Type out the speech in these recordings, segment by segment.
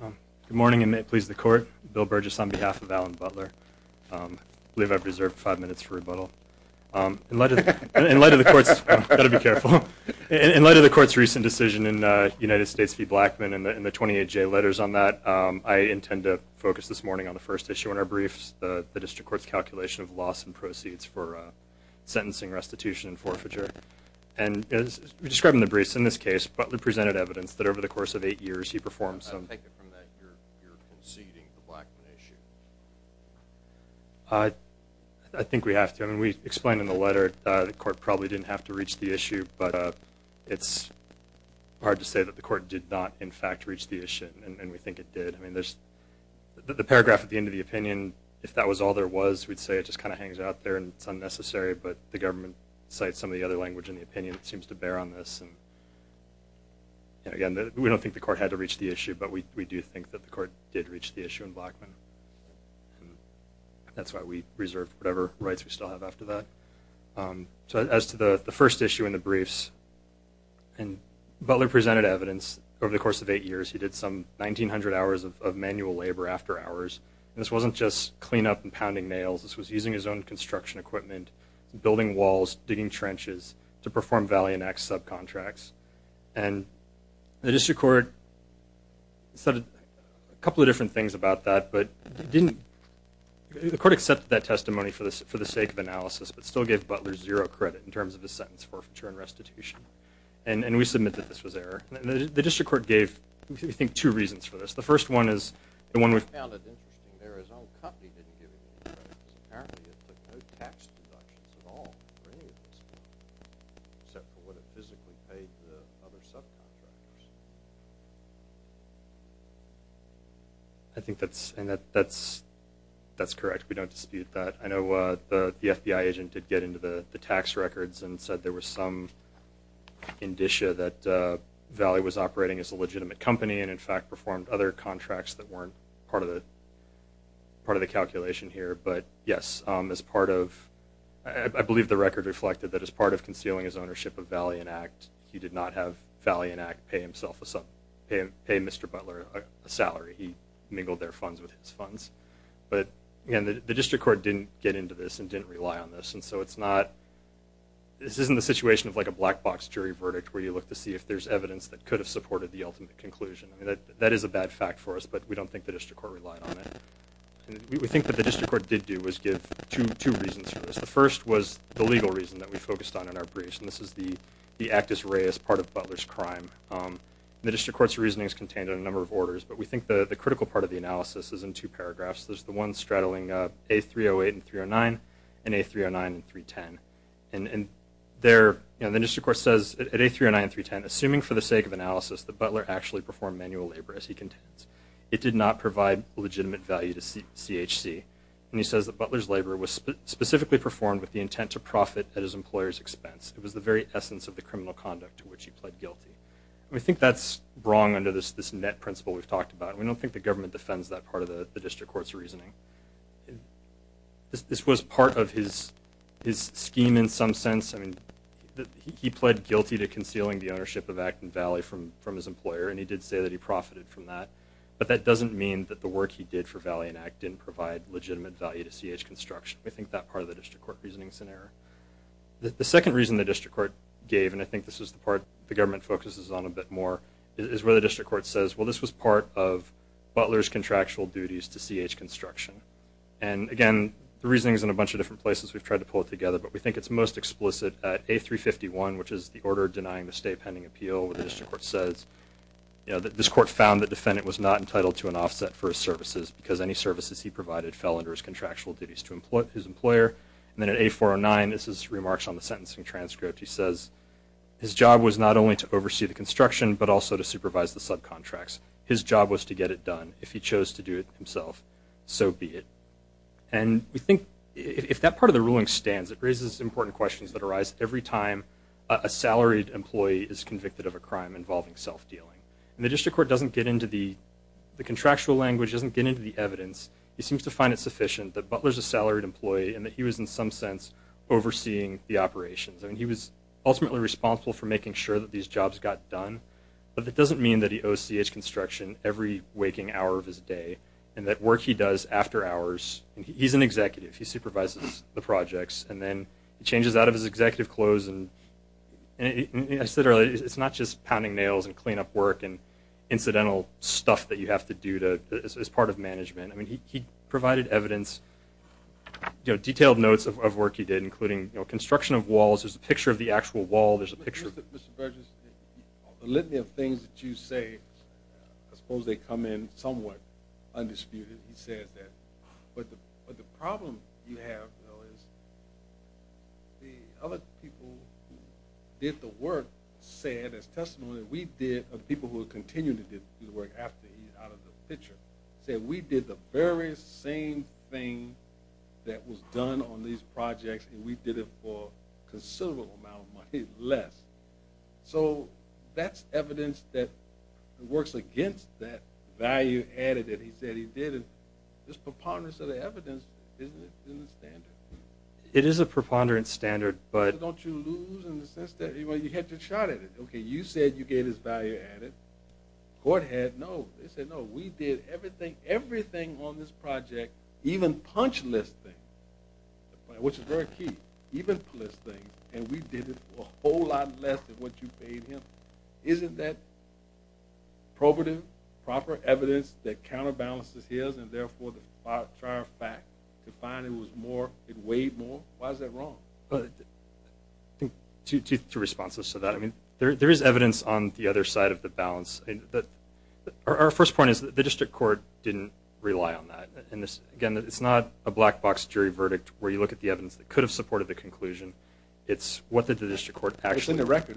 Good morning and may it please the court. Bill Burgess on behalf of Alan Butler. I believe I've reserved five minutes for rebuttal. In light of the court's recent decision in United States v. Blackmun and the 28J letters on that, I intend to focus this morning on the first issue in our briefs, the District Court's calculation of loss and proceeds for sentencing, restitution, and forfeiture. And as we described in the briefs, in this case Butler presented evidence that over the course of eight years he performed some... I take it from that you're conceding the Blackmun issue. I think we have to. I mean we explained in the letter the court probably didn't have to reach the issue but it's hard to say that the court did not in fact reach the issue and we think it did. I mean there's the paragraph at the end of the opinion if that was all there was we'd say it just kind of hangs out there and it's unnecessary but the government cites some of the other language in the We don't think the court had to reach the issue but we do think that the court did reach the issue in Blackmun. That's why we reserved whatever rights we still have after that. So as to the first issue in the briefs and Butler presented evidence over the course of eight years he did some 1,900 hours of manual labor after hours. This wasn't just clean up and pounding nails, this was using his own construction equipment, building walls, digging trenches to perform valiant acts subcontracts and the district court said a couple of different things about that but didn't, the court accepted that testimony for this for the sake of analysis but still gave Butler zero credit in terms of his sentence for forfeiture and restitution and and we submit that this was error. The district court gave I think two reasons for this. The first one is the I think that's and that that's that's correct we don't dispute that. I know the FBI agent did get into the the tax records and said there was some indicia that Valley was operating as a legitimate company and in fact performed other contracts that weren't part of the part of the calculation here but yes as part of I believe the record reflected that as part of concealing his ownership of Valiant Act he did not have Valiant Act pay himself a pay Mr. Butler a salary. He mingled their funds with his funds but again the district court didn't get into this and didn't rely on this and so it's not this isn't the situation of like a black box jury verdict where you look to see if there's evidence that could have supported the ultimate conclusion. That is a bad fact for us but we don't think the district court relied on it. We think that the district court did do was give two reasons for this. The first was the legal reason that we focused on in our briefs and this is the the actus rei as part of Butler's crime. The district court's reasoning is contained in a number of orders but we think the the critical part of the analysis is in two paragraphs there's the one straddling a 308 and 309 and a 309 and 310 and and there you know the district court says at a 309 310 assuming for the sake of analysis that Butler actually performed manual labor as he contends. It did not provide legitimate value to CHC and he says that Butler's labor was specifically performed with the intent to profit at his employer's expense. It was the very essence of the criminal conduct to which he pled guilty. We think that's wrong under this this net principle we've talked about. We don't think the government defends that part of the district court's reasoning. This was part of his his scheme in some sense. I mean he pled guilty to concealing the ownership of Acton Valley from from his employer and he did say that he profited from that but that doesn't mean that the work he did for Valley and Acton didn't provide legitimate value to CH construction. We think that part of the district court reasoning is in error. The second reason the district court gave and I think this is the part the government focuses on a bit more is where the district court says well this was part of Butler's contractual duties to CH construction and again the reasoning is in a bunch of different places we've tried to pull it together but we think it's most explicit at a 351 which is the order denying the stay pending appeal where the district court says you know that this court found that defendant was not entitled to an offset for his services he provided fell under his contractual duties to employ his employer and then at a 409 this is remarks on the sentencing transcript he says his job was not only to oversee the construction but also to supervise the subcontracts his job was to get it done if he chose to do it himself so be it and we think if that part of the ruling stands it raises important questions that arise every time a salaried employee is convicted of a crime involving self-dealing and the district court doesn't get into the the he seems to find it sufficient that Butler's a salaried employee and that he was in some sense overseeing the operations and he was ultimately responsible for making sure that these jobs got done but that doesn't mean that he owes CH construction every waking hour of his day and that work he does after hours and he's an executive he supervises the projects and then he changes out of his executive clothes and I said earlier it's not just pounding nails and clean up work and incidental stuff that you have to do to as part of he provided evidence detailed notes of work he did including construction of walls there's a picture of the actual wall there's a picture of things that you say I suppose they come in somewhat undisputed he says that but the problem you have the other people did the work said as testimony we did of people who same thing that was done on these projects and we did it for considerable amount of money less so that's evidence that works against that value added that he said he did this preponderance of the evidence it is a preponderance standard but don't you lose in the sense that you had to chart it okay you said you gave his value added court had no they said no we did everything everything on this project even punch list thing which is very key even this thing and we did it a whole lot less than what you paid him isn't that probative proper evidence that counterbalances his and therefore the fact to find it was more it weighed more why is that wrong but to two responses to that I mean there is evidence on the other side of the balance that our first point is that the it's not a black box jury verdict where you look at the evidence that could have supported the conclusion it's what the district court actually the record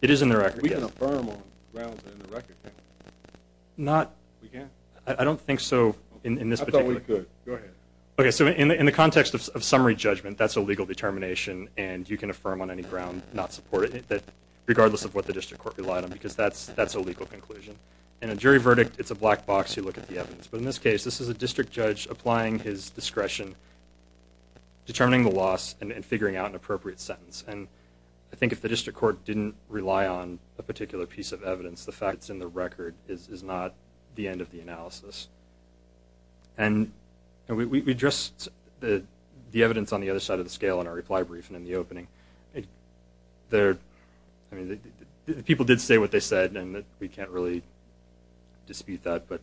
it is in the record not I don't think so in the context of summary judgment that's a legal determination and you can affirm on any ground not support it regardless of what the district court relied on because that's that's a legal conclusion in a judge applying his discretion determining the loss and figuring out appropriate sentence and I think if the district court didn't rely on a particular piece of evidence the facts in the record is not the end of the analysis and we just the evidence on the other side of the scale in our reply briefing in the opening there people did say what they said and that we can't dispute that but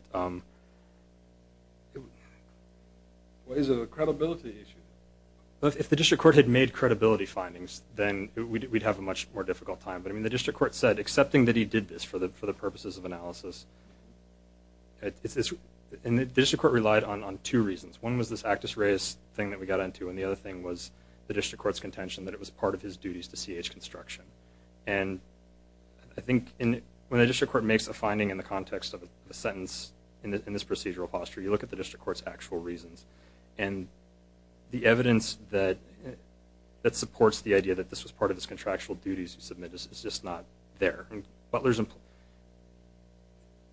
if the court had made credibility findings then we'd have a much more difficult time but I mean the district court said accepting that he did this for the purposes of analysis relied on on two reasons one was this actress race thing that we got into and the other thing was the district court's contention that it was part of his duties to CH construction and I think in the district court makes a finding in the context of a sentence in this procedural posture you look at the district court's actual reasons and the evidence that that supports the idea that this was part of this contractual duties you submit is just not there but there's a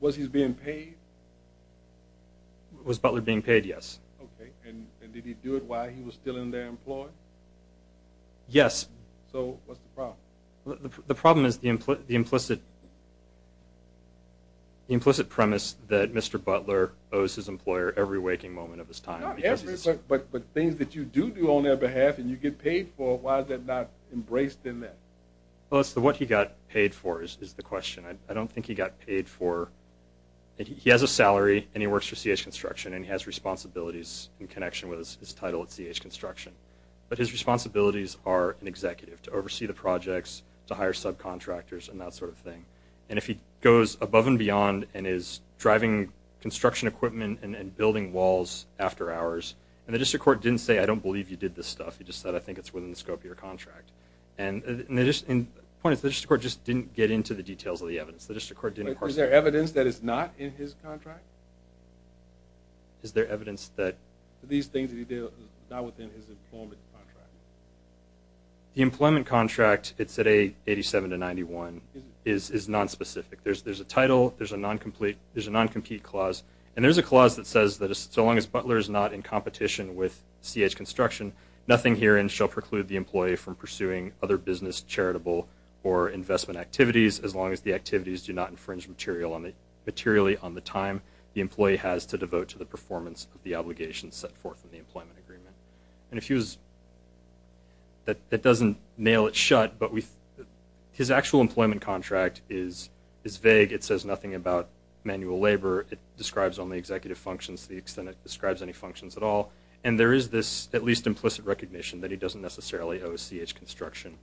was he's being paid was Butler being paid yes okay and did he do it while he was still in there employed yes the problem is the implicit implicit premise that mr. Butler owes his employer every waking moment of his time but but things that you do do on their behalf and you get paid for why is that not embraced in that well so what he got paid for is the question I don't think he got paid for he has a salary and he works for CH construction and he has responsibilities in connection with his responsibilities are an executive to oversee the projects to hire subcontractors and that sort of thing and if he goes above and beyond and is driving construction equipment and building walls after hours and the district court didn't say I don't believe you did this stuff he just said I think it's within the scope of your contract and they just in points the district court just didn't get into the details of the evidence the district court didn't there evidence that is not in his contract is there evidence that these things that he did not within his employment contract the employment contract it's at a 87 to 91 is non-specific there's there's a title there's a non-complete there's a non-compete clause and there's a clause that says that as long as Butler is not in competition with CH construction nothing herein shall preclude the employee from pursuing other business charitable or investment activities as long as the activities do not infringe material on the materially on the time the employee has to devote to the performance of the obligation set forth in the employment agreement and if he was that that doesn't nail it shut but with his actual employment contract is is vague it says nothing about manual labor it describes only executive functions the extent it describes any functions at all and there is this at least implicit recognition that he doesn't necessarily owe CH construction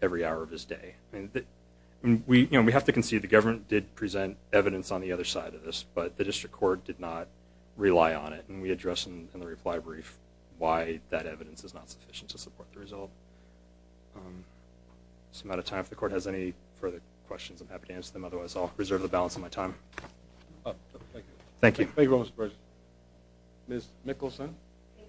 every hour of his day and we you know we have to concede the government did present evidence on the other side of this but the district court did not rely on it and we address them in the reply brief why that evidence is not sufficient to support the result some out of time if the court has any further questions I'm happy to answer them otherwise I'll reserve the balance of my time thank you thank you mr. person miss Nicholson you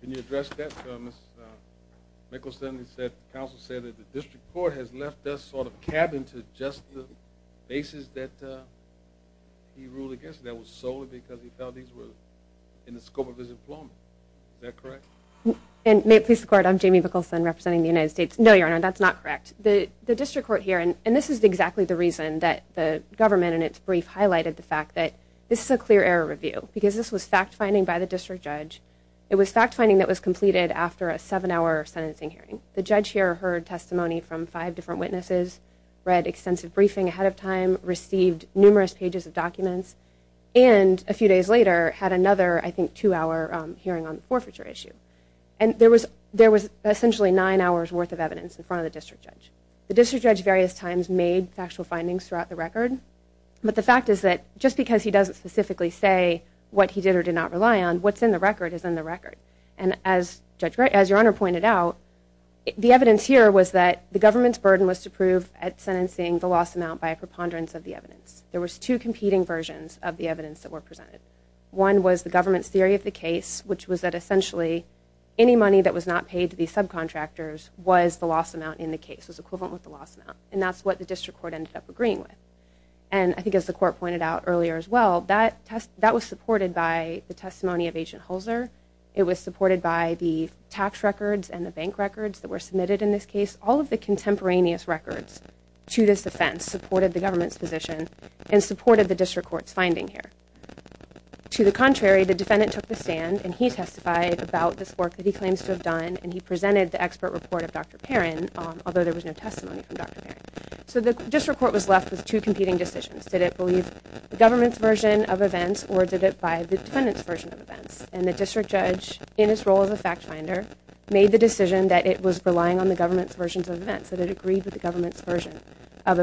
can you address that Thomas Nicholson he said counsel said that the district court has left us sort of cabin to just the basis that he ruled against that was solely because he felt these were in the scope of his employment that correct and may it please the court I'm Jamie Nicholson representing the United States no your honor that's not correct the the district court here and and this is exactly the reason that the government and its brief highlighted the fact that this is a clear error review because this was fact-finding by the district judge it was fact-finding that was completed after a seven-hour sentencing hearing the judge here heard testimony from five different witnesses read extensive briefing ahead of time received numerous pages of documents and a few days later had another I think two-hour hearing on the forfeiture issue and there was there was essentially nine hours worth of evidence in front of the district judge the district judge various times made factual findings throughout the record but the fact is that just because he doesn't specifically say what he did or did not rely on what's in the record is in the record and as judge right as your honor pointed out the evidence here was that the government's burden was to prove at sentencing the loss amount by a preponderance of the evidence there was two competing versions of the evidence that were presented one was the government's theory of the case which was that essentially any money that was not paid to these subcontractors was the loss amount in the case was equivalent the loss amount and that's what the district court ended up agreeing with and I think as the court pointed out earlier as well that test that was supported by the testimony of agent Holzer it was supported by the tax records and the bank records that were submitted in this case all of the contemporaneous records to this offense supported the government's position and supported the district courts finding here to the contrary the defendant took the stand and he testified about this work that he claims to have done and he presented the expert report of dr. Perrin although there was no testimony from dr. Perrin so the district court was left with two competing decisions did it believe the government's version of events or did it by the defendant's version of events and the district judge in his role as a fact finder made the decision that it was relying on the government's versions of events that it agreed with the government's version of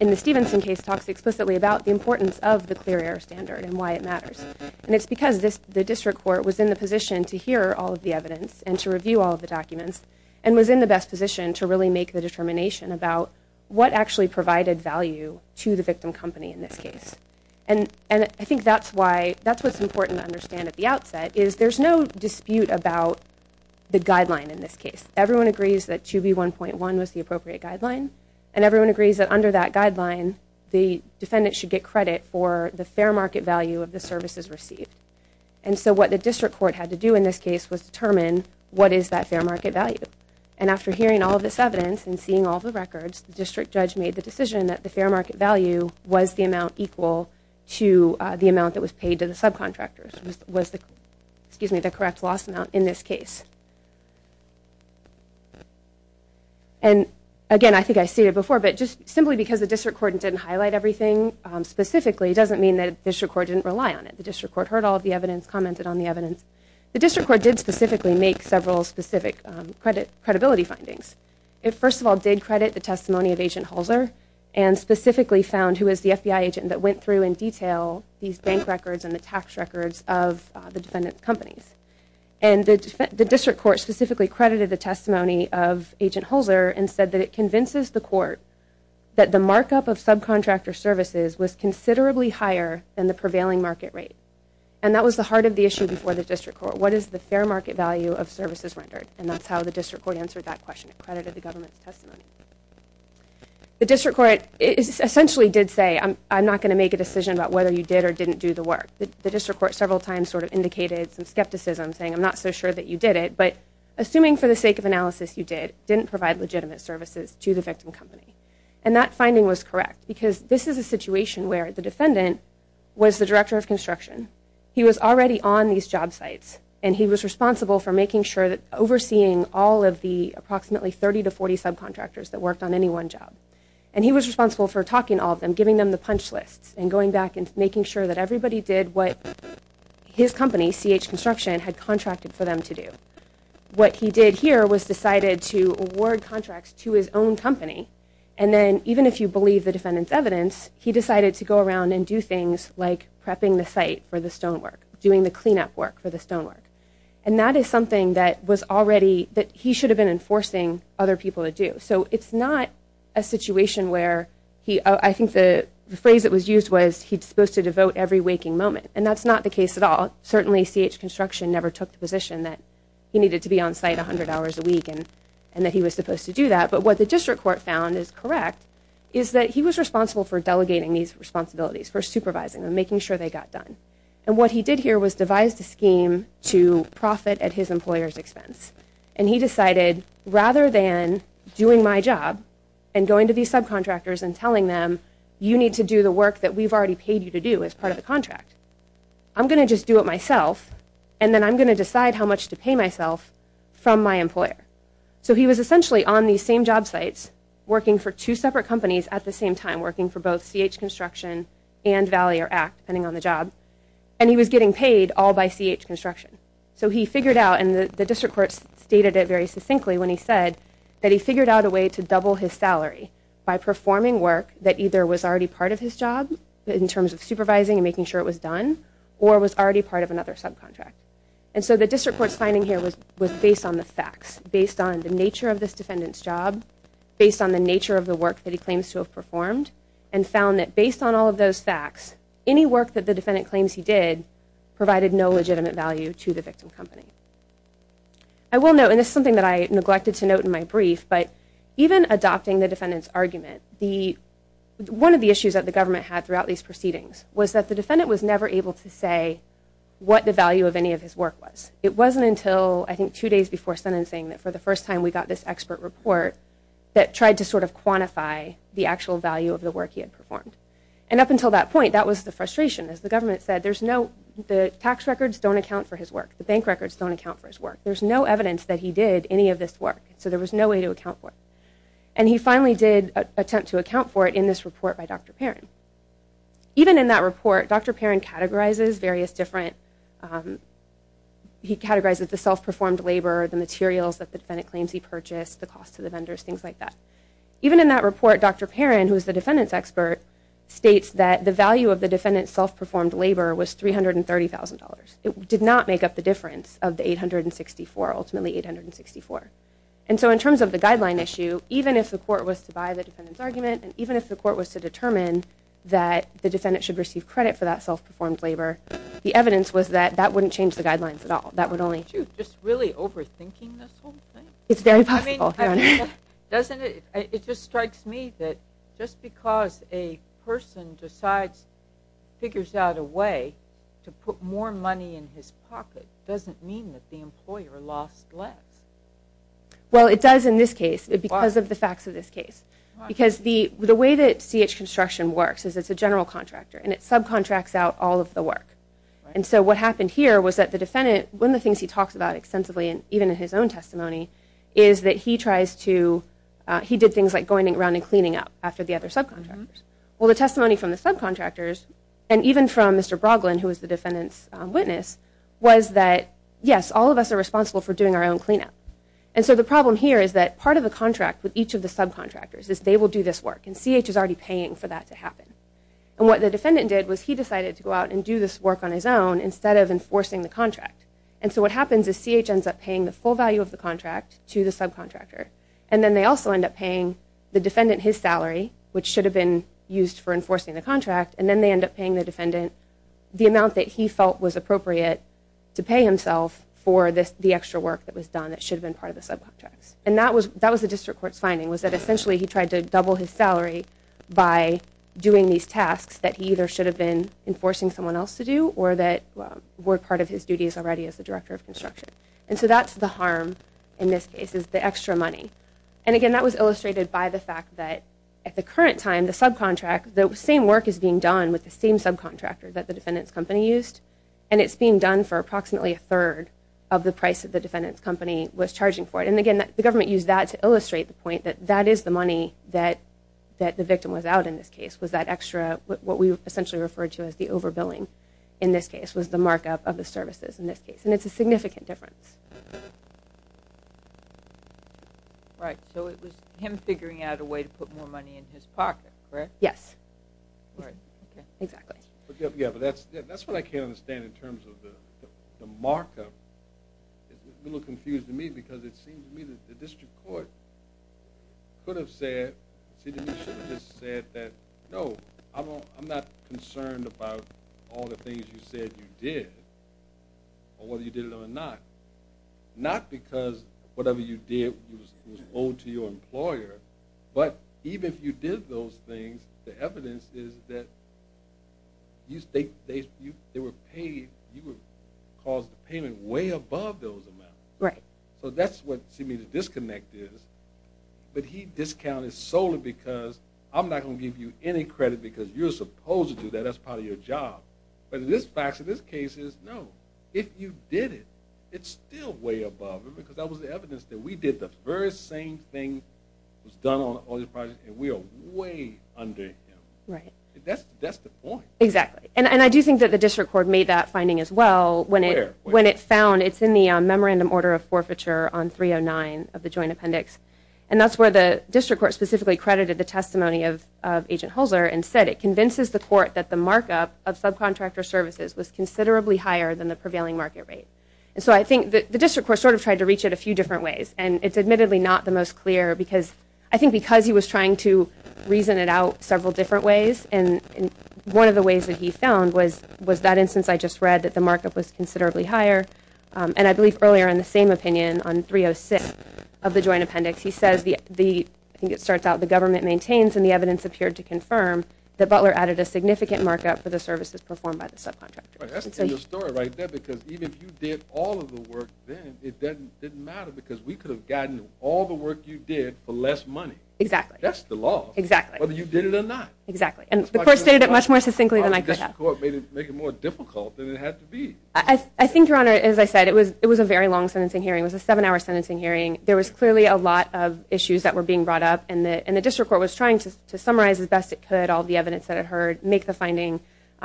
in the Stevenson case talks explicitly about the importance of the clear air standard and why it matters and it's because this the district court was in the position to hear all of the evidence and to review all of the documents and was in the best position to really make the determination about what actually provided value to the victim company in this case and and I think that's why that's what's important to understand at the outset is there's no dispute about the guideline in this case everyone agrees that to be 1.1 was the everyone agrees that under that guideline the defendant should get credit for the fair market value of the services received and so what the district court had to do in this case was determine what is that fair market value and after hearing all this evidence and seeing all the records district judge made the decision that the fair market value was the amount equal to the amount that was paid to the subcontractors was the excuse me the correct loss amount in this case and again I think I see it before but just simply because the district court didn't highlight everything specifically doesn't mean that this record didn't rely on it the district court heard all of the evidence commented on the evidence the district court did specifically make several specific credit credibility findings it first of all did credit the testimony of agent Halser and specifically found who is the FBI agent that went through in detail these bank records and the tax records of the defendant's companies and the district court specifically credited the testimony of agent Halser and said that it convinces the court that the markup of subcontractor services was considerably higher than the prevailing market rate and that was the heart of the issue before the district court what is the fair market value of services rendered and that's how the district court answered that question it credited the government's testimony the district court is essentially did say I'm not going to make a decision about whether you did or didn't do the work the district court several times sort of indicated some skepticism saying I'm not so sure that you did it but assuming for the sake of analysis you did didn't provide legitimate services to the victim company and that finding was correct because this is a situation where the defendant was the director of construction he was already on these job sites and he was responsible for making sure that overseeing all of the approximately 30 to 40 subcontractors that worked on any one job and he was responsible for talking all of them giving them the punch lists and going back and making sure that everybody did what his company CH construction had contracted for them to do what he did here was decided to award contracts to his own company and then even if you believe the defendants evidence he decided to go around and do things like prepping the site for the stonework doing the cleanup work for the stonework and that is something that was already that he should have been enforcing other people to do so it's not a situation where he I think the phrase that was used was he's supposed to devote every waking moment and that's not the case at all certainly CH construction never took the position that he needed to be on site a hundred hours a week and and that he was supposed to do that but what the district court found is correct is that he was responsible for delegating these responsibilities for supervising and making sure they got done and what he did here was devised a scheme to profit at his employers expense and he decided rather than doing my job and going to these subcontractors and telling them you need to do the work that we've already paid you to do as part of the contract I'm gonna just do it myself and then I'm gonna decide how much to pay myself from my employer so he was essentially on these same job sites working for two separate companies at the same time working for both CH construction and Valley or act depending on the job and he was getting paid all by CH construction so he figured out and the district courts stated it very succinctly when he said that he figured out a way to double his salary by performing work that either was already part of his job in terms of supervising and making sure it was done or was already part of another subcontract and so the district courts finding here was was based on the facts based on the nature of this defendants job based on the nature of the work that he claims to have performed and found that based on all of those facts any work that the defendant claims he did provided no legitimate value to the victim company I will know and it's something that I neglected to note in my brief but even adopting the defendant's argument the one of the issues that the government had throughout these proceedings was that the defendant was never able to say what the value of any of his work was it wasn't until I think two days before sentencing that for the first time we got this expert report that tried to sort of quantify the actual value of the work he had performed and up until that point that was the frustration as the government said there's no the tax records don't account for his work the bank records don't account for his work there's no evidence that he did any of this work so there was no way to account for it and he finally did attempt to account for it in this report by Dr. Perrin even in that report Dr. Perrin categorizes various different he categorizes the self-performed labor the materials that the defendant claims he purchased the cost to the vendors things like that even in that report Dr. Perrin who is the defendants expert states that the value of the defendants self-performed labor was three hundred and thirty thousand dollars it did not make up the difference of the eight hundred and sixty four and so in terms of the guideline issue even if the court was to buy the defendant's argument and even if the court was to determine that the defendant should receive credit for that self-performed labor the evidence was that that wouldn't change the guidelines at all that would only do just really overthinking this whole thing it's very possible doesn't it it just strikes me that just because a person decides figures out a way to put more money in his pocket doesn't mean that the employer lost less well it does in this case it because of the facts of this case because the the way that CH construction works is it's a general contractor and it subcontracts out all of the work and so what happened here was that the defendant when the things he talks about extensively and even in his own testimony is that he tries to he did things like going around and cleaning up after the other subcontractors well the testimony from the subcontractors and even from mr. Broglin who is the defendant's witness was that yes all of us are responsible for doing our own cleanup and so the problem here is that part of the contract with each of the subcontractors is they will do this work and CH is already paying for that to happen and what the defendant did was he decided to go out and do this work on his own instead of enforcing the contract and so what happens is CH ends up paying the full value of the contract to the subcontractor and then they also end up paying the defendant his salary which should have been used for the amount that he felt was appropriate to pay himself for this the extra work that was done that should have been part of the subcontracts and that was that was the district courts finding was that essentially he tried to double his salary by doing these tasks that he either should have been enforcing someone else to do or that were part of his duties already as the director of construction and so that's the harm in this case is the extra money and again that was illustrated by the fact that at the current time the subcontract the same work is being done with the same subcontractor that the defendants company used and it's being done for approximately a third of the price of the defendants company was charging for it and again that the government use that to illustrate the point that that is the money that that the victim was out in this case was that extra what we essentially referred to as the over billing in this case was the markup of the services in this case and it's a significant difference right so it was him figuring out a way to put more money in his pocket yes exactly yeah but that's that's what I can't understand in terms of the markup a little confused to me because it seems to me that the district court could have said said that no I'm not concerned about all the things you said you did or whether you did it or not not because whatever you did was owed to your employer but even if you did those things the evidence is that you think they were paid you would cause the payment way above those amounts right so that's what see me to disconnect is but he discounted solely because I'm not gonna give you any credit because you're supposed to do that that's part of your job but in this fact in this case is no if you did it it's still way above because that was the evidence that we did the very same thing was done on all your project and we are way under him right that's that's the point exactly and I do think that the district court made that finding as well when it when it found it's in the memorandum order of forfeiture on 309 of the joint appendix and that's where the district court specifically credited the testimony of agent Holzer and said it convinces the court that the markup of subcontractor services was considerably higher than the prevailing market rate and so I think that the district court sort of tried to reach it a few different ways and it's admittedly not the most clear because I think because he was trying to reason it out several different ways and in one of the ways that he found was was that instance I just read that the markup was considerably higher and I believe earlier in the same opinion on 306 of the joint appendix he says the the I think it starts out the government maintains and the evidence appeared to confirm that Butler added a significant markup for the services performed by the subcontractor because we could have gotten all the work you did for less money exactly that's the law exactly whether you did it or not exactly and the first day that much more succinctly than I could I think your honor as I said it was it was a very long sentencing hearing was a seven-hour sentencing hearing there was clearly a lot of issues that were being brought up and the and the district court was trying to summarize as best it could all the evidence that it heard make the finding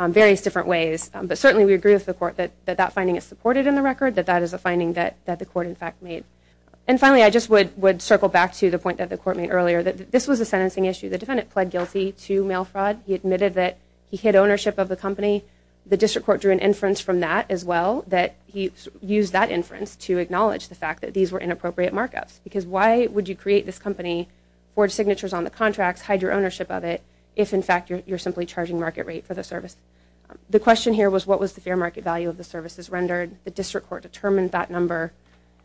various different ways but certainly we agree with the court that that that finding is supported in the record that that is a finding that that the court in fact made and finally I just would would circle back to the point that the court made earlier that this was a sentencing issue the defendant pled guilty to mail fraud he admitted that he hid ownership of the company the district court drew an inference from that as well that he used that inference to acknowledge the fact that these were inappropriate markups because why would you create this company forge signatures on the contracts hide your ownership of it if in fact you're simply charging market rate for the service the question here was what was the fair market value of the services rendered the district court determined that number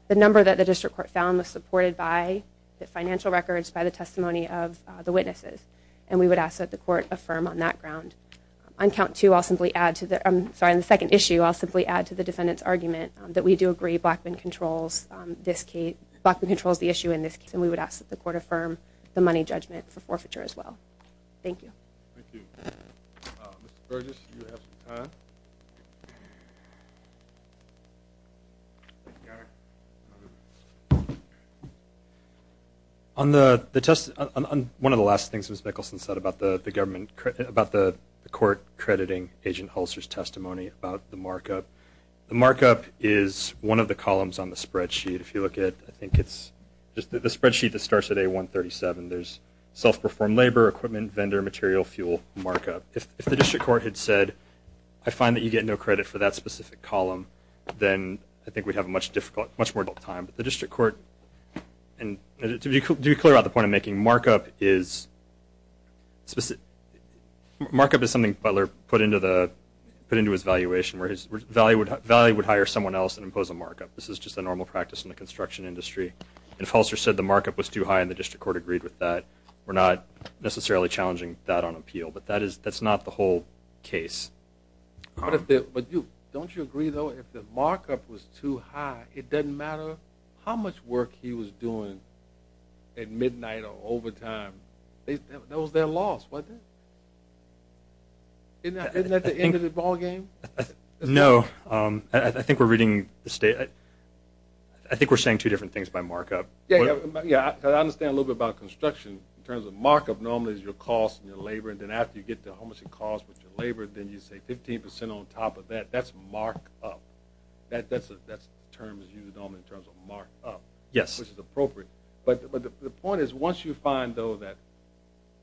the number that the district court found was supported by the financial records by the testimony of the witnesses and we would ask that the court affirm on that ground on count two I'll simply add to that I'm sorry in the second issue I'll simply add to the defendants argument that we do agree blackman controls this key blackman controls the issue in this case and we would ask that the court affirm the money judgment for forfeiture as well thank you on the the test on one of the last things was Nicholson said about the government about the court crediting agent holsters testimony about the markup the markup is one of the columns on the spreadsheet if you look at I spreadsheet that starts at a 137 there's self-performed labor equipment vendor material fuel markup if the district court had said I find that you get no credit for that specific column then I think we'd have a much difficult much more time but the district court and to be clear out the point of making markup is specific markup is something Butler put into the put into his valuation where his value would value would hire someone else and impose a normal practice in the construction industry and falser said the markup was too high in the district court agreed with that we're not necessarily challenging that on appeal but that is that's not the whole case don't you agree though if the markup was too high it doesn't matter how much work he was doing at midnight or overtime they know their loss wasn't it at the end of the I think we're saying two different things by markup yeah yeah I understand a little bit about construction in terms of markup normally is your cost and your labor and then after you get to how much it cost with your labor then you say 15 percent on top of that that's mark up that that's that's terms you don't in terms of markup yes which is appropriate but but the point is once you find though that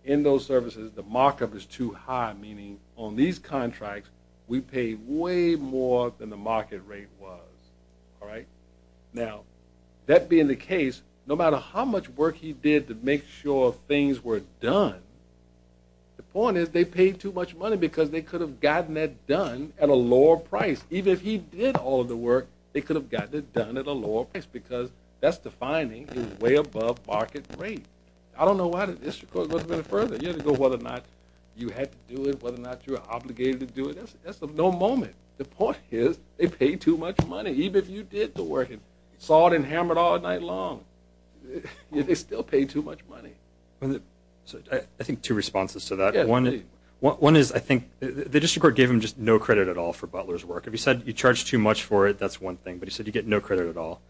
in those services the markup is too high meaning on these contracts we pay way more than the market rate was all right now that being the case no matter how much work he did to make sure things were done the point is they paid too much money because they could have gotten that done at a lower price even if he did all the work they could have gotten it done at a lower price because that's defining way above market rate I don't know why did this further you know whether or not you had to do it whether or not you're obligated to do it no moment the point is they pay too much money even if you did the working sawed and hammered all night long they still pay too much money I think two responses to that one what one is I think the district gave him just no credit at all for Butler's work if he said you charge too much for it that's one thing but he said you get no credit at all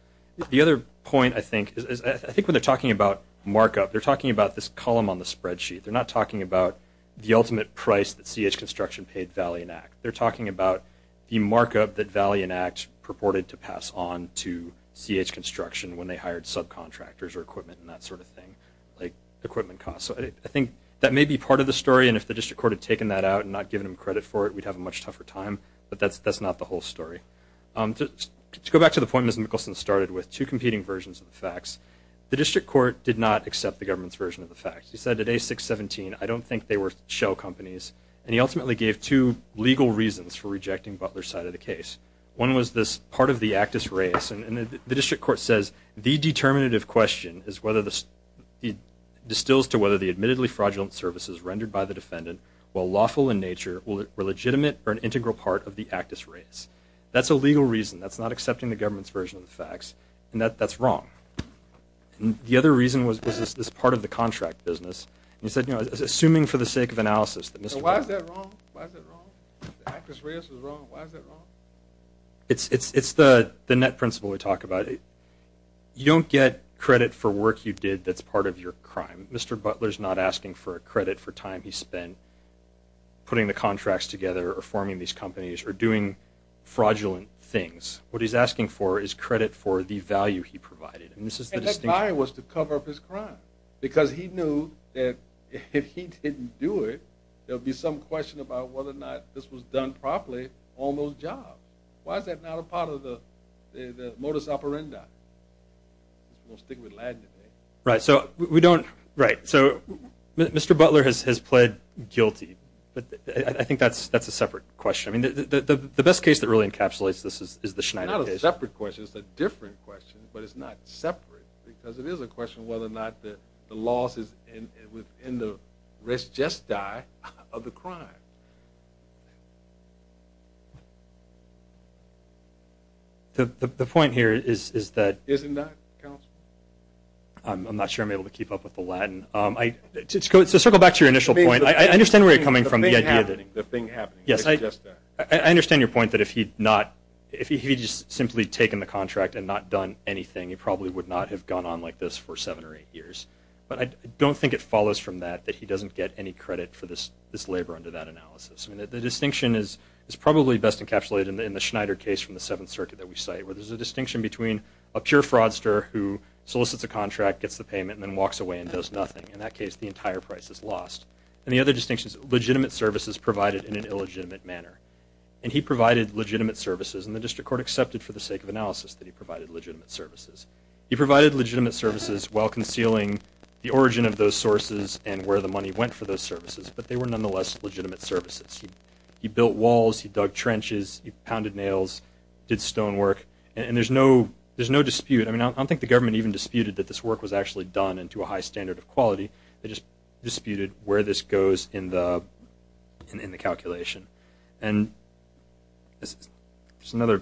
the other point I think is I think when they're talking about markup they're talking about this column on the spreadsheet they're not talking about the ultimate price that CH construction paid Valiant Act they're talking about the markup that Valiant Act purported to pass on to CH construction when they hired subcontractors or equipment and that sort of thing like equipment cost so I think that may be part of the story and if the district court had taken that out and not given him credit for it we'd have a much tougher time but that's that's not the whole story to go back to the point as Nicholson started with two competing versions of the facts the district court did not accept the government's version of the facts he said today 617 I don't think they were shell companies and he ultimately gave two legal reasons for rejecting Butler side of the case one was this part of the actus race and the district court says the determinative question is whether this distills to whether the admittedly fraudulent services rendered by the defendant while lawful in nature will it were legitimate or an integral part of the actus race that's a legal reason that's not accepting the government's version of the facts and that that's wrong the other reason was this part of the contract business he said you know assuming for the sake of it's it's it's the the net principle we talk about it you don't get credit for work you did that's part of your crime mr. Butler's not asking for a credit for time he spent putting the contracts together or forming these companies or doing fraudulent things what he's asking for is credit for the value he provided and this is the desire was to cover up his crime because he knew that if he done properly almost job why is that not a part of the modus operandi right so we don't write so mr. Butler has has pled guilty but I think that's that's a separate question I mean the best case that really encapsulates this is the Schneider separate questions a different question but it's not separate because it is a question whether or not that the loss is in within the rest just die of the crime the point here is is that isn't that I'm not sure I'm able to keep up with the Latin I just go to circle back to your initial point I understand where you're coming from the thing happening yes I just I understand your point that if he'd not if he just simply taken the contract and not done anything he probably would not have gone on like this for seven or eight years but I don't think it follows from that that he doesn't get any credit for this this labor under that analysis and that the distinction is is probably best encapsulated in the Schneider case from the Seventh Circuit that we say where there's a distinction between a pure fraudster who solicits a contract gets the payment and then walks away and does nothing in that case the entire price is lost and the other distinctions legitimate services provided in an illegitimate manner and he provided legitimate services and the district court accepted for the sake of analysis that he provided legitimate services he provided legitimate services while concealing the origin of those sources and where the money went for those services but they were nonetheless legitimate services he built walls he dug trenches he pounded nails did stone work and there's no there's no dispute I mean I don't think the government even disputed that this work was actually done into a high standard of quality they just disputed where this goes in the in the calculation and this is another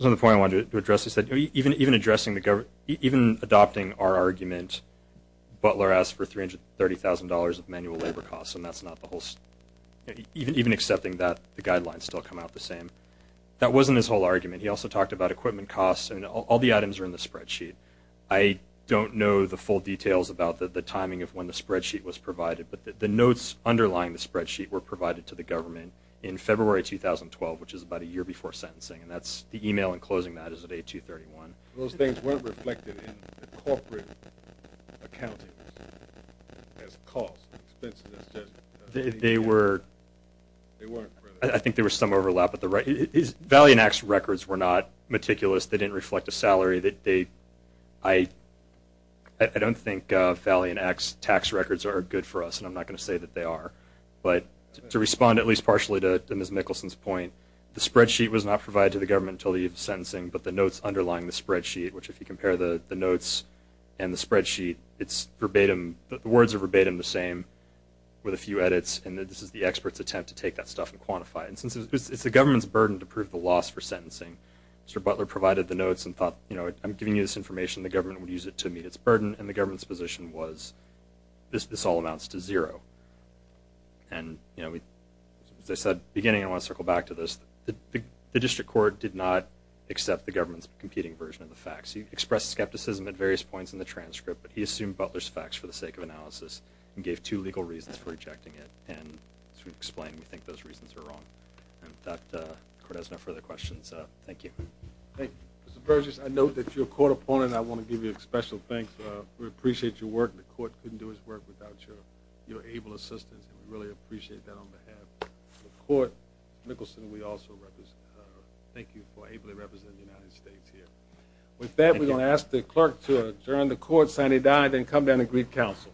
another point I wanted to address is that even even addressing the government even adopting our argument Butler asked for $330,000 of manual labor costs and that's not the whole even even accepting that the guidelines still come out the same that wasn't his whole argument he also talked about equipment costs and all the items are in the spreadsheet I don't know the full details about the timing of when the spreadsheet was provided but the notes underlying the spreadsheet were provided to the government in February 2012 which is about a year before sentencing and that's the email and closing that is at 231 those things weren't reflected in the corporate accounting as cost they were I think there was some overlap at the right his valiant acts records were not meticulous they didn't reflect a salary that they I I don't think Valley and X tax records are good for us and I'm not gonna say that they are but to respond at least partially to miss Mickelson's point the spreadsheet was not provided to the government to leave sentencing but the notes underlying the spreadsheet which if you compare the notes and the spreadsheet it's verbatim the words are verbatim the same with a few edits and that this is the experts attempt to take that stuff and quantify and since it's the government's burden to prove the loss for sentencing mr. Butler provided the notes and thought you know I'm giving you this information the government would use it to meet its burden and the government's position was this this all amounts to zero and you court did not accept the government's competing version of the facts he expressed skepticism at various points in the transcript but he assumed Butler's facts for the sake of analysis and gave two legal reasons for rejecting it and to explain we think those reasons are wrong and that has no further questions thank you hey mr. Burgess I note that your court opponent I want to give you a special thanks we appreciate your work the court couldn't do his work without your your able assistance and we really appreciate that on behalf of the thank you for able to represent the United States here with that we're gonna ask the clerk to adjourn the court sine die then come down and greet counsel